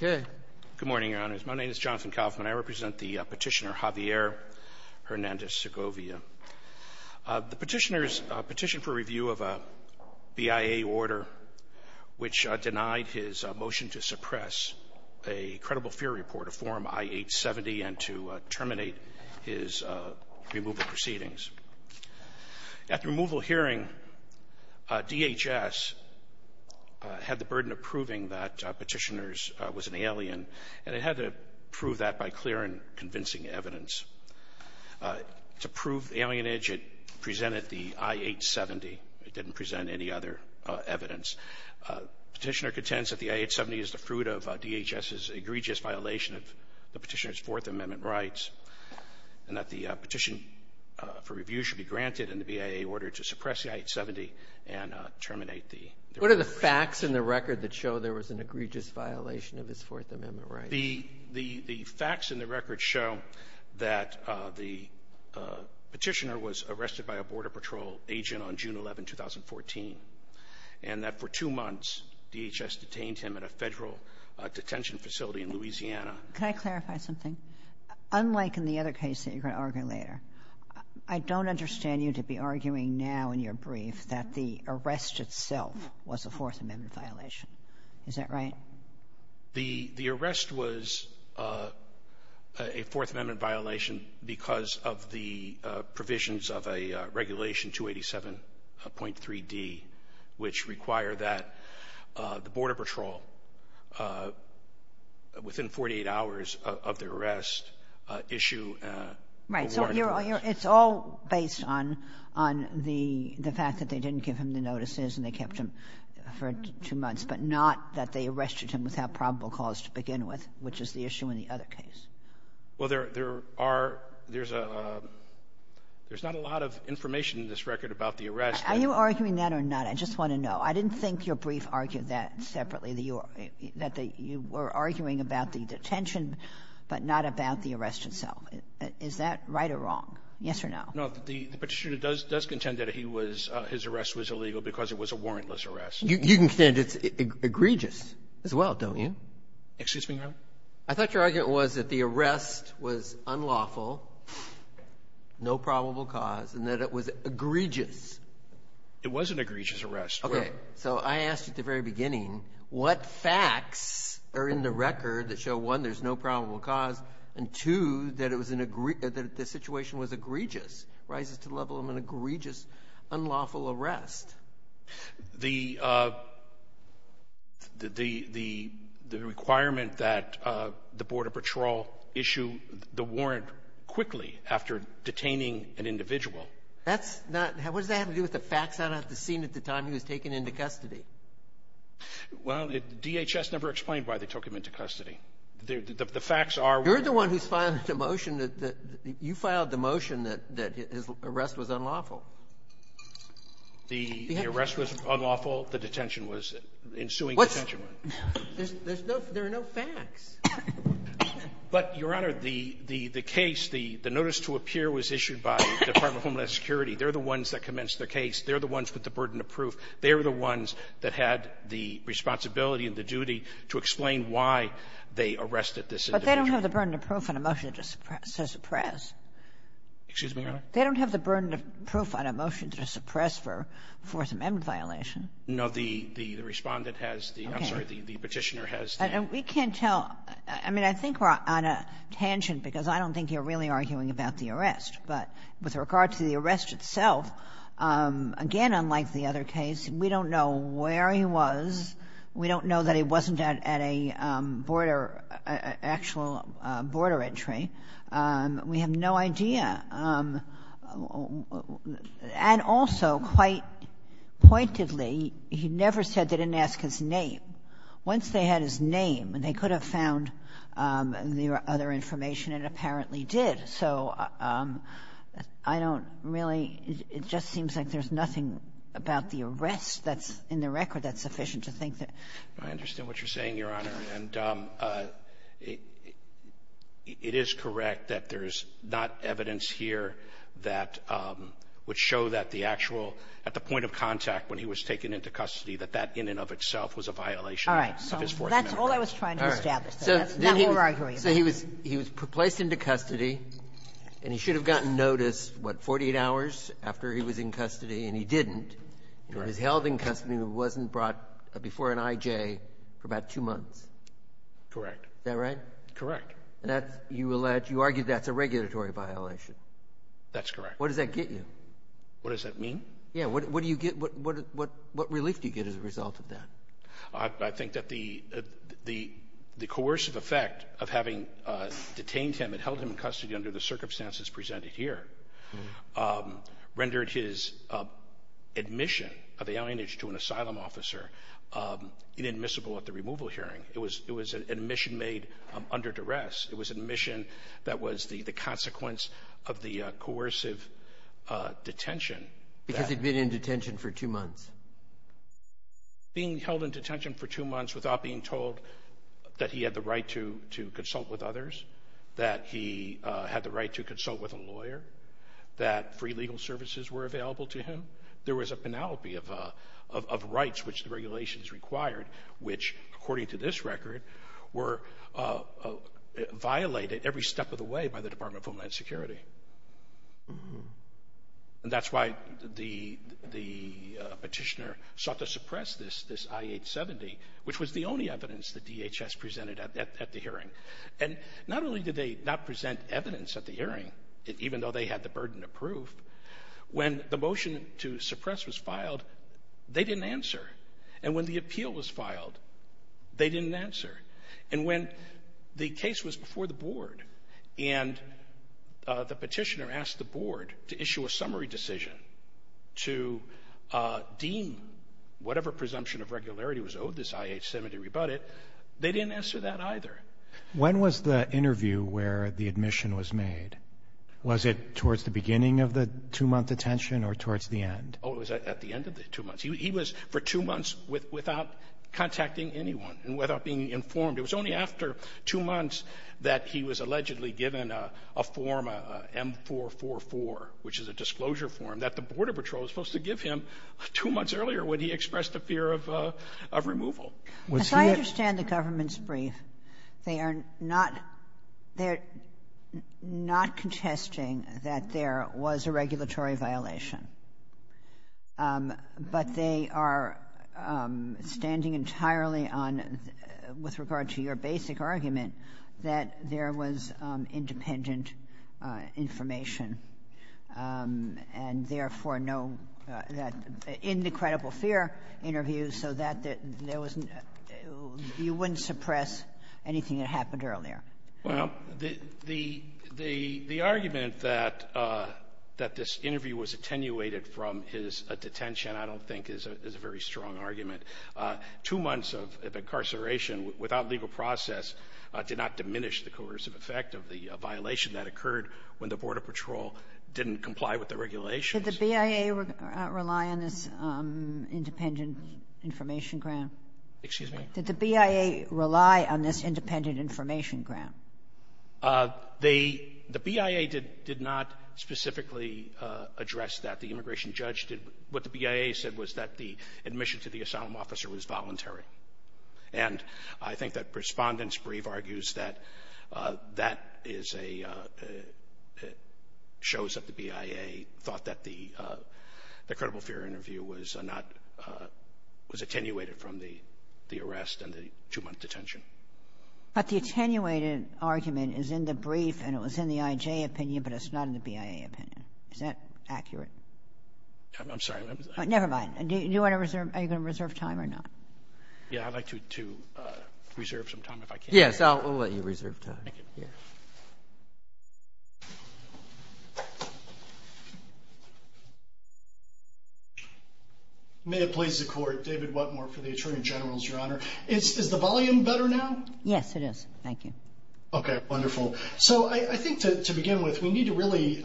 Good morning, Your Honors. My name is Jonathan Kaufman. I represent the petitioner Javier Hernandez-Segovia. The petitioner has petitioned for review of a BIA order which denied his motion to suppress a credible fear report of Form I-870 and to terminate his removal proceedings. At the removal hearing, DHS had the burden of proving that Petitioner was an alien, and it had to prove that by clear and convincing evidence. To prove alienage, it presented the I-870. It didn't present any other evidence. Petitioner contends that the I-870 is the fruit of DHS's egregious violation of the petitioner's Fourth Amendment rights, and that the petition for review should be granted in the BIA order to suppress the I-870 and terminate the removal proceedings. What are the facts in the record that show there was an egregious violation of his Fourth Amendment rights? The facts in the record show that the petitioner was arrested by a Border Patrol agent on June 11, 2014, and that for two months, DHS detained him at a federal detention facility in Louisiana. Can I clarify something? Unlike in the other case that you're going to argue later, I don't understand you to be arguing now in your brief that the arrest itself was a Fourth Amendment violation. Is that right? The arrest was a Fourth Amendment violation because of the provisions of a Regulation 287.3D, which require that the Border Patrol, within 48 hours of their arrest, issue a warrant. Right. So it's all based on the fact that they didn't give him the notices and they kept him for two months, but not that they arrested him without probable cause to begin with, which is the issue in the other case. Well, there's not a lot of information in this record about the arrest. Are you arguing that or not? I just want to know. I didn't think your brief argued that separately, that you were arguing about the detention but not about the arrest itself. Is that right or wrong? Yes or no? No. The petitioner does contend that his arrest was illegal because it was a warrantless arrest. You can contend it's egregious as well, don't you? Excuse me, Your Honor? I thought your argument was that the arrest was unlawful, no probable cause, and that it was egregious. It was an egregious arrest. Okay. So I asked you at the very beginning, what facts are in the record that show, one, there's no probable cause, and two, that the situation was egregious, rises to the level of an egregious, unlawful arrest? The requirement that the Border Patrol issue the warrant quickly after detaining an individual. That's not – what does that have to do with the facts? I don't have to see it at the time he was taken into custody. Well, DHS never explained why they took him into custody. The facts are – You're the one who's filed the motion that – you filed the motion that his arrest was unlawful. The arrest was unlawful. The detention was – the ensuing detention was. What's – there's no – there are no facts. But, Your Honor, the case, the notice to appear was issued by the Department of Homeland Security. They're the ones that commenced the case. They're the ones with the burden of proof. They're the ones that had the responsibility and the duty to explain why they arrested this individual. But they don't have the burden of proof in a motion to suppress. Excuse me, Your Honor? They don't have the burden of proof on a motion to suppress for Fourth Amendment violation. No, the respondent has the – I'm sorry, the petitioner has the – And we can't tell – I mean, I think we're on a tangent because I don't think you're really arguing about the arrest. But with regard to the arrest itself, again, unlike the other case, we don't know where he was. We don't know that he wasn't at a border – actual border entry. We have no idea. And also, quite pointedly, he never said they didn't ask his name. Once they had his name, they could have found the other information, and apparently did. So I don't really – it just seems like there's nothing about the arrest that's in the record that's sufficient to think that – I understand what you're saying, Your Honor. And it is correct that there's not evidence here that would show that the actual – at the point of contact when he was taken into custody, that that in and of itself was a violation of his Fourth Amendment. All right. That's all I was trying to establish. All right. So he was placed into custody, and he should have gotten notice, what, 48 hours after he was in custody, and he didn't. Correct. He was held in custody but wasn't brought before an IJ for about two months. Correct. Is that right? Correct. And that's – you allege – you argue that's a regulatory violation. That's correct. What does that get you? What does that mean? Yeah. What do you get – what relief do you get as a result of that? I think that the coercive effect of having detained him and held him in custody under the circumstances presented here rendered his admission of the alienage to an asylum officer inadmissible at the removal hearing. It was an admission made under duress. It was an admission that was the consequence of the coercive detention. Because he'd been in detention for two months. Being held in detention for two months without being told that he had the right to consult with others, that he had the right to consult with a lawyer, that free legal services were available to him, there was a panoply of rights which the regulations required which, according to this record, were violated every step of the way by the Department of Homeland Security. And that's why the petitioner sought to suppress this I-870, which was the only evidence the DHS presented at the hearing. And not only did they not present evidence at the hearing, even though they had the burden of proof, when the motion to suppress was filed, they didn't answer. And when the appeal was filed, they didn't answer. And when the case was before the board and the petitioner asked the board to issue a They didn't answer that either. When was the interview where the admission was made? Was it towards the beginning of the two-month detention or towards the end? Oh, it was at the end of the two months. He was for two months without contacting anyone and without being informed. It was only after two months that he was allegedly given a form, M444, which is a disclosure form, that the Border Patrol was supposed to give him two months earlier when he expressed a fear of removal. As I understand the government's brief, they are not contesting that there was a regulatory violation. But they are standing entirely on, with regard to your basic argument, that there was independent information. And therefore, in the credible fear interview, you wouldn't suppress anything that happened earlier. Well, the argument that this interview was attenuated from his detention, I don't think, is a very strong argument. Two months of incarceration without legal process did not diminish the coercive effect of the violation that occurred when the Border Patrol didn't comply with the regulations. Did the BIA rely on this independent information grant? Excuse me? Did the BIA rely on this independent information grant? The BIA did not specifically address that. The immigration judge did. What the BIA said was that the admission to the asylum officer was voluntary. And I think that Respondent's brief argues that that shows that the BIA thought that the credible fear interview was attenuated from the arrest and the two-month detention. But the attenuated argument is in the brief, and it was in the IJ opinion, but it's not in the BIA opinion. Is that accurate? I'm sorry. Never mind. Do you want to reserve? Are you going to reserve time or not? Yeah, I'd like to reserve some time if I can. Yes, we'll let you reserve time. Thank you. May it please the Court. David Whatmore for the Attorney General's, Your Honor. Is the volume better now? Yes, it is. Thank you. Okay, wonderful. So I think to begin with, we need to really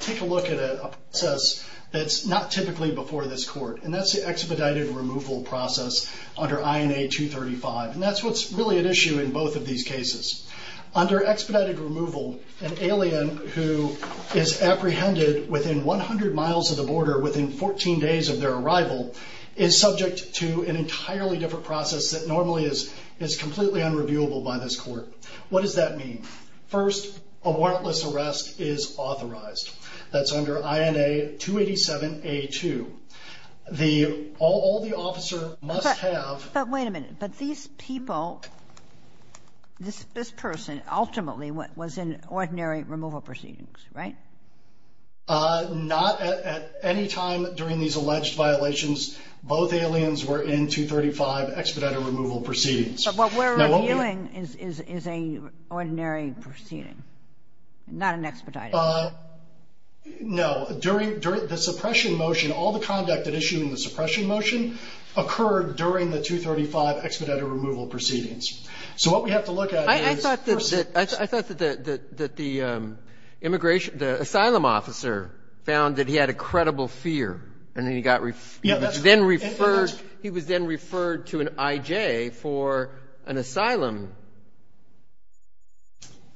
take a look at a process that's not typically before this Court, and that's the expedited removal process under INA 235. And that's what's really at issue in both of these cases. Under expedited removal, an alien who is apprehended within 100 miles of the border within 14 days of their arrival is subject to an entirely different process that normally is completely unreviewable by this Court. What does that mean? First, a warrantless arrest is authorized. That's under INA 287A2. All the officer must have – But wait a minute. But these people, this person ultimately was in ordinary removal proceedings, right? Not at any time during these alleged violations. Both aliens were in 235 expedited removal proceedings. But what we're reviewing is a ordinary proceeding, not an expedited. No. During the suppression motion, all the conduct at issue in the suppression motion occurred during the 235 expedited removal proceedings. So what we have to look at is – I thought that the immigration – the asylum officer found that he had a credible fear, and then he got – Yeah, that's – for an asylum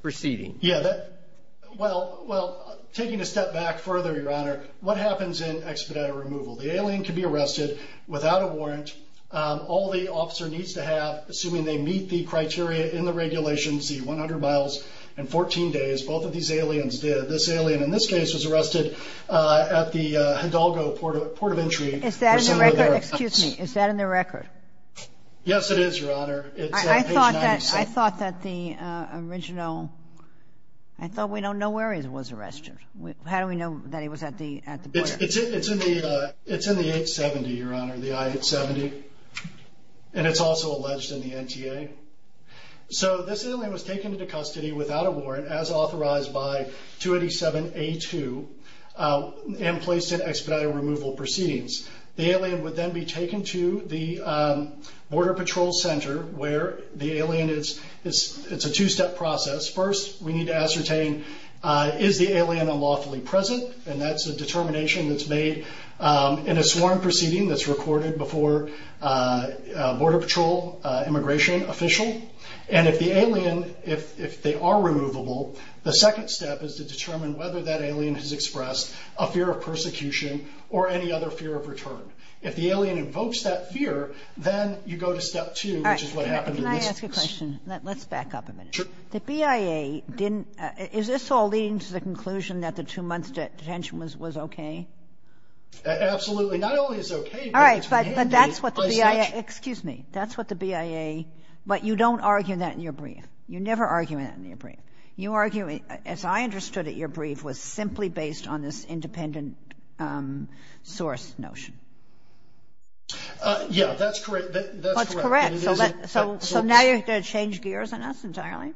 proceeding. Yeah, that – Well, taking a step back further, Your Honor, what happens in expedited removal? The alien can be arrested without a warrant. All the officer needs to have, assuming they meet the criteria in the regulations, the 100 miles and 14 days, both of these aliens did. This alien in this case was arrested at the Hidalgo Port of Entry. Is that in the record? Excuse me. Is that in the record? Yes, it is, Your Honor. It's on page 96. I thought that the original – I thought we don't know where he was arrested. How do we know that he was at the port? It's in the 870, Your Honor, the I-870. And it's also alleged in the NTA. So this alien was taken into custody without a warrant, as authorized by 287A2, and placed in expedited removal proceedings. The alien would then be taken to the Border Patrol Center, where the alien is – it's a two-step process. First, we need to ascertain, is the alien unlawfully present? And that's a determination that's made in a sworn proceeding that's recorded before a Border Patrol immigration official. And if the alien – if they are removable, the second step is to determine whether that alien has expressed a fear of persecution or any other fear of return. If the alien invokes that fear, then you go to step two, which is what happened. All right. Can I ask a question? Let's back up a minute. Sure. The BIA didn't – is this all leading to the conclusion that the two months detention was okay? Absolutely. Not only is it okay, but it's – All right. But that's what the BIA – excuse me. That's what the BIA – but you don't argue that in your brief. You never argue that in your brief. You argue, as I understood it, your brief was simply based on this independent source notion. Yeah, that's correct. That's correct. So now you're going to change gears on us entirely?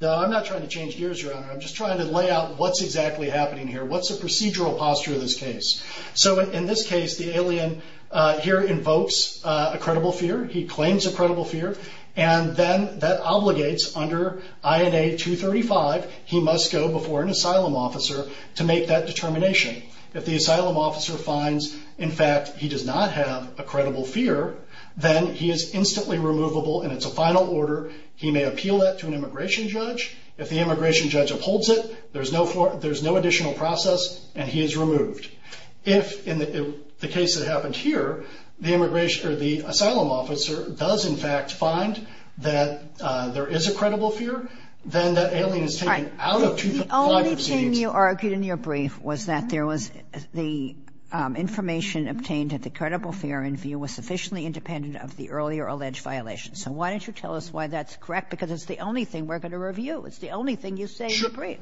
No, I'm not trying to change gears, Your Honor. I'm just trying to lay out what's exactly happening here. What's the procedural posture of this case? So in this case, the alien here invokes a credible fear. He claims a credible fear. And then that obligates under INA 235, he must go before an asylum officer to make that determination. If the asylum officer finds, in fact, he does not have a credible fear, then he is instantly removable and it's a final order. He may appeal that to an immigration judge. If the immigration judge upholds it, there's no additional process, and he is removed. If, in the case that happened here, the asylum officer does, in fact, find that there is a credible fear, then that alien is taken out of 255 seats. The only thing you argued in your brief was that there was the information obtained that the credible fear in view was sufficiently independent of the earlier alleged violations. So why don't you tell us why that's correct? Because it's the only thing we're going to review. It's the only thing you say in your brief.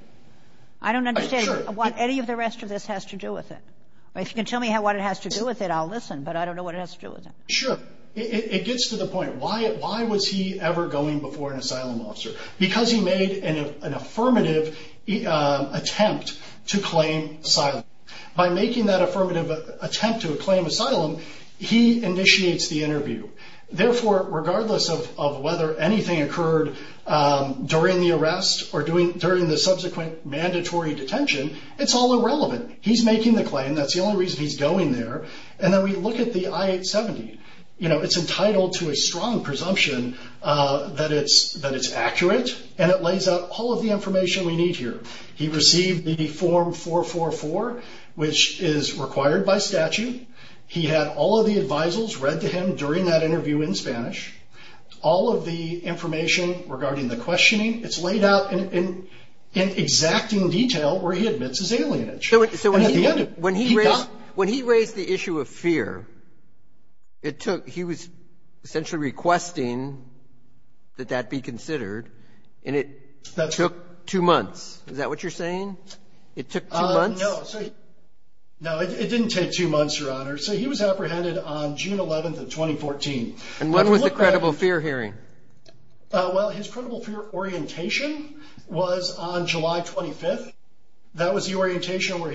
I don't understand what any of the rest of this has to do with it. If you can tell me what it has to do with it, I'll listen, but I don't know what it has to do with it. Sure. It gets to the point. Why was he ever going before an asylum officer? Because he made an affirmative attempt to claim asylum. By making that affirmative attempt to claim asylum, he initiates the interview. Therefore, regardless of whether anything occurred during the arrest or during the subsequent mandatory detention, it's all irrelevant. He's making the claim. That's the only reason he's going there. And then we look at the I-870. It's entitled to a strong presumption that it's accurate, and it lays out all of the information we need here. He received the Form 444, which is required by statute. He had all of the advisals read to him during that interview in Spanish. All of the information regarding the questioning, it's laid out in exacting detail where he admits his alienage. When he raised the issue of fear, he was essentially requesting that that be considered, and it took two months. Is that what you're saying? It took two months? No, it didn't take two months, Your Honor. So he was apprehended on June 11th of 2014. And what was the credible fear hearing? Well, his credible fear orientation was on July 25th. That was the orientation where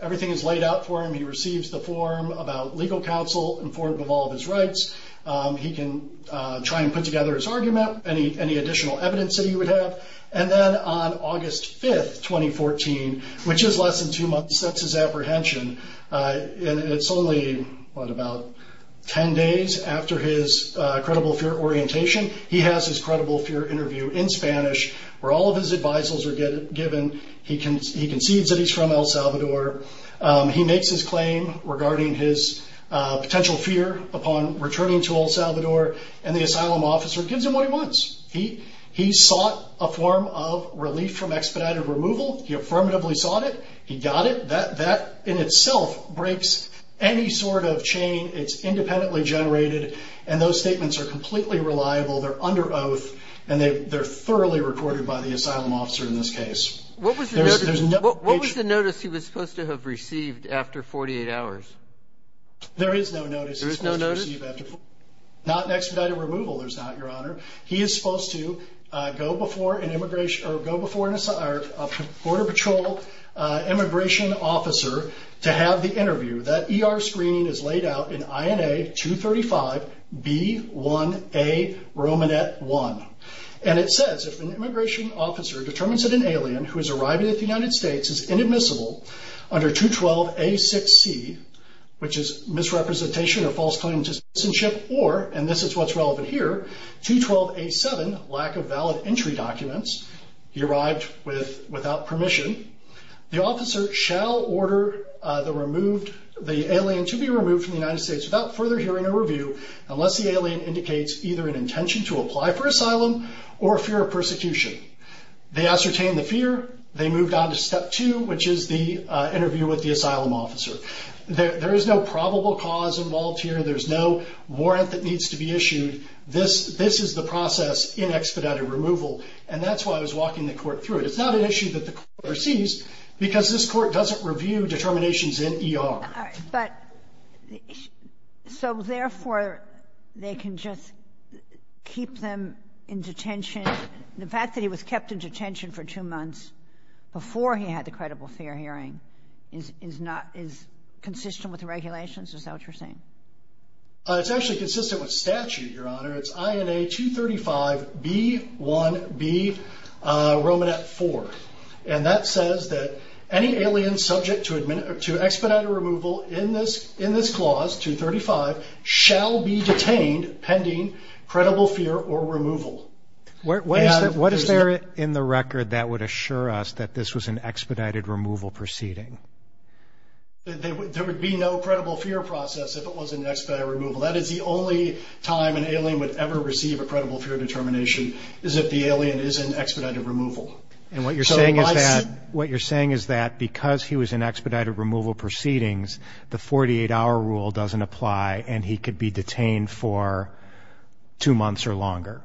everything is laid out for him. He receives the form about legal counsel in form of all of his rights. He can try and put together his argument, any additional evidence that he would have. And then on August 5th, 2014, which is less than two months, that's his apprehension. And it's only, what, about ten days after his credible fear orientation. He has his credible fear interview in Spanish, where all of his advisals are given. He concedes that he's from El Salvador. He makes his claim regarding his potential fear upon returning to El Salvador, and the asylum officer gives him what he wants. He sought a form of relief from expedited removal. He affirmatively sought it. He got it. That, in itself, breaks any sort of chain. It's independently generated, and those statements are completely reliable. They're under oath, and they're thoroughly recorded by the asylum officer in this case. What was the notice he was supposed to have received after 48 hours? There is no notice. There is no notice? Not an expedited removal, there's not, Your Honor. He is supposed to go before a Border Patrol immigration officer to have the interview. That ER screening is laid out in INA 235B1A Romanet 1. And it says, if an immigration officer determines that an alien who has arrived in the United States is inadmissible under 212A6C, which is misrepresentation of false claim to citizenship, or, and this is what's relevant here, 212A7, lack of valid entry documents, he arrived without permission, the officer shall order the alien to be removed from the United States without further hearing or review, unless the alien indicates either an intention to apply for asylum or fear of persecution. They ascertain the fear. They moved on to step two, which is the interview with the asylum officer. There is no probable cause involved here. There's no warrant that needs to be issued. This is the process in expedited removal. And that's why I was walking the Court through it. It's not an issue that the Court receives because this Court doesn't review determinations in ER. All right. But so, therefore, they can just keep them in detention. The fact that he was kept in detention for two months before he had the credible fear hearing is not, is consistent with the regulations? Is that what you're saying? It's actually consistent with statute, Your Honor. It's INA 235B1B Romanet 4. And that says that any alien subject to expedited removal in this clause, 235, shall be detained pending credible fear or removal. What is there in the record that would assure us that this was an expedited removal proceeding? There would be no credible fear process if it was an expedited removal. That is the only time an alien would ever receive a credible fear determination, is if the alien is in expedited removal. And what you're saying is that because he was in expedited removal proceedings, the 48-hour rule doesn't apply and he could be detained for two months or longer?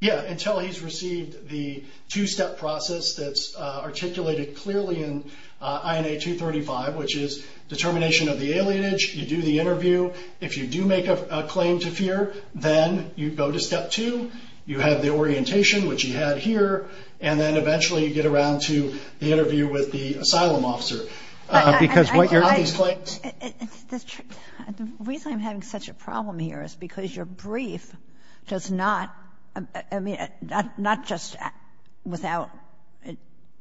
Yeah, until he's received the two-step process that's articulated clearly in INA 235, which is determination of the alienage. You do the interview. If you do make a claim to fear, then you go to step two. You have the orientation, which you had here. And then, eventually, you get around to the interview with the asylum officer. Because what you're— The reason I'm having such a problem here is because your brief does not, I mean, not just without —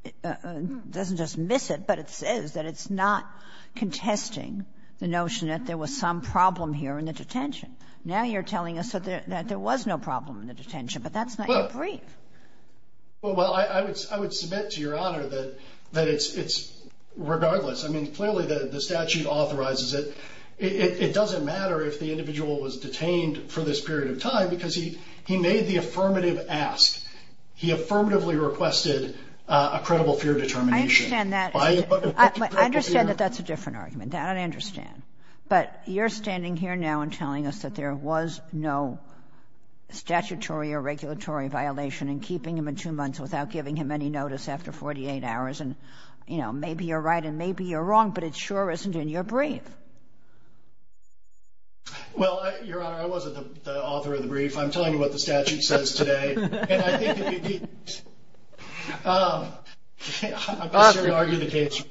it doesn't dismiss it, but it says that it's not contesting the notion that there was some problem here in the detention. Now you're telling us that there was no problem in the detention, but that's not your brief. Well, I would submit to Your Honor that it's regardless. I mean, clearly the statute authorizes it. It doesn't matter if the individual was detained for this period of time because he made the affirmative ask. He affirmatively requested a credible fear determination. I understand that. I understand that that's a different argument. That I understand. But you're standing here now and telling us that there was no statutory or regulatory violation in keeping him in two months without giving him any notice after 48 hours. And, you know, maybe you're right and maybe you're wrong, but it sure isn't in your brief. Well, Your Honor, I wasn't the author of the brief. I'm telling you what the statute says today. And I think if you— I'm just here to argue the case.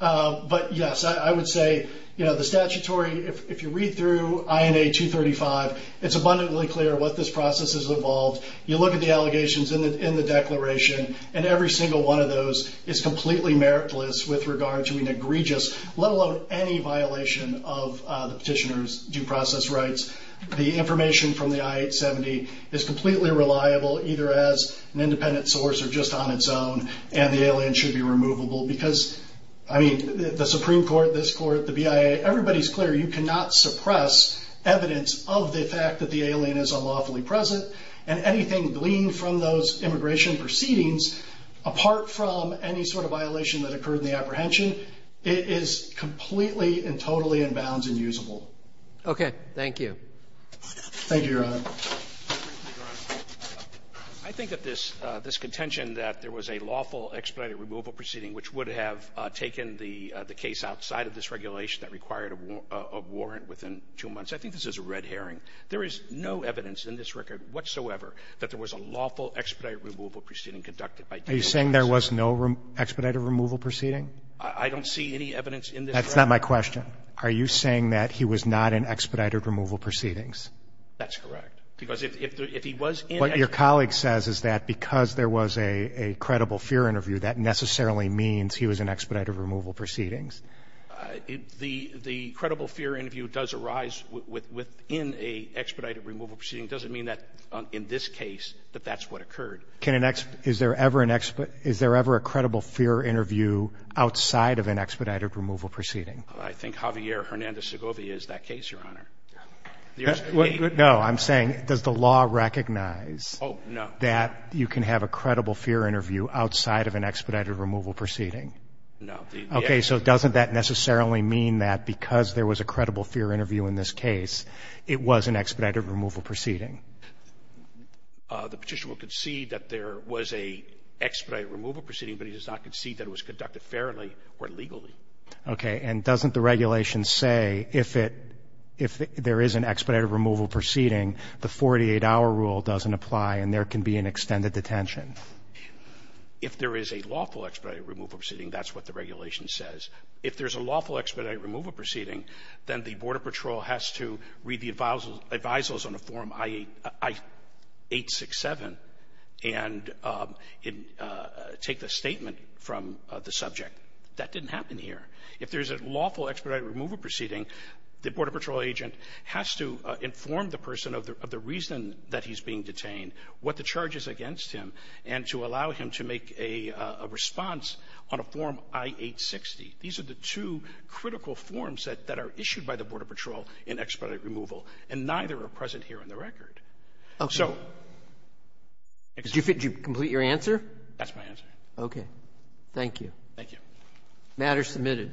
But, yes, I would say, you know, the statutory, if you read through INA 235, it's abundantly clear what this process has involved. You look at the allegations in the declaration, and every single one of those is completely meritless with regard to an egregious, let alone any violation of the petitioner's due process rights. The information from the I-870 is completely reliable, either as an independent source or just on its own, and the alien should be removable. Because, I mean, the Supreme Court, this Court, the BIA, everybody's clear. You cannot suppress evidence of the fact that the alien is unlawfully present. And anything gleaned from those immigration proceedings, apart from any sort of violation that occurred in the apprehension, it is completely and totally in bounds and usable. Okay. Thank you. Thank you, Your Honor. I think that this contention that there was a lawful expedited removal proceeding which would have taken the case outside of this regulation that required a warrant within two months, I think this is a red herring. There is no evidence in this record whatsoever that there was a lawful expedited removal proceeding conducted by David Waxman. Are you saying there was no expedited removal proceeding? I don't see any evidence in this record. That's not my question. Are you saying that he was not in expedited removal proceedings? That's correct. Because if he was in expedited removal proceedings. What your colleague says is that because there was a credible fear interview, that necessarily means he was in expedited removal proceedings. The credible fear interview does arise within an expedited removal proceeding. It doesn't mean that in this case that that's what occurred. Is there ever a credible fear interview outside of an expedited removal proceeding? I think Javier Hernandez Segovia is that case, Your Honor. No, I'm saying does the law recognize that you can have a credible fear interview outside of an expedited removal proceeding? No. Okay, so doesn't that necessarily mean that because there was a credible fear interview in this case, it was an expedited removal proceeding? The petitioner will concede that there was an expedited removal proceeding, but he does not concede that it was conducted fairly or legally. Okay, and doesn't the regulation say if there is an expedited removal proceeding, the 48-hour rule doesn't apply and there can be an extended detention? If there is a lawful expedited removal proceeding, that's what the regulation says. If there's a lawful expedited removal proceeding, then the Border Patrol has to read the advisals on a form I-867 and take the statement from the subject. That didn't happen here. If there's a lawful expedited removal proceeding, the Border Patrol agent has to inform the person of the reason that he's being detained, what the charge is against him, and to allow him to make a response on a form I-860. These are the two critical forms that are issued by the Border Patrol in expedited removal, and neither are present here on the record. Okay. Did you complete your answer? That's my answer. Okay. Thank you. Thank you. Matter submitted.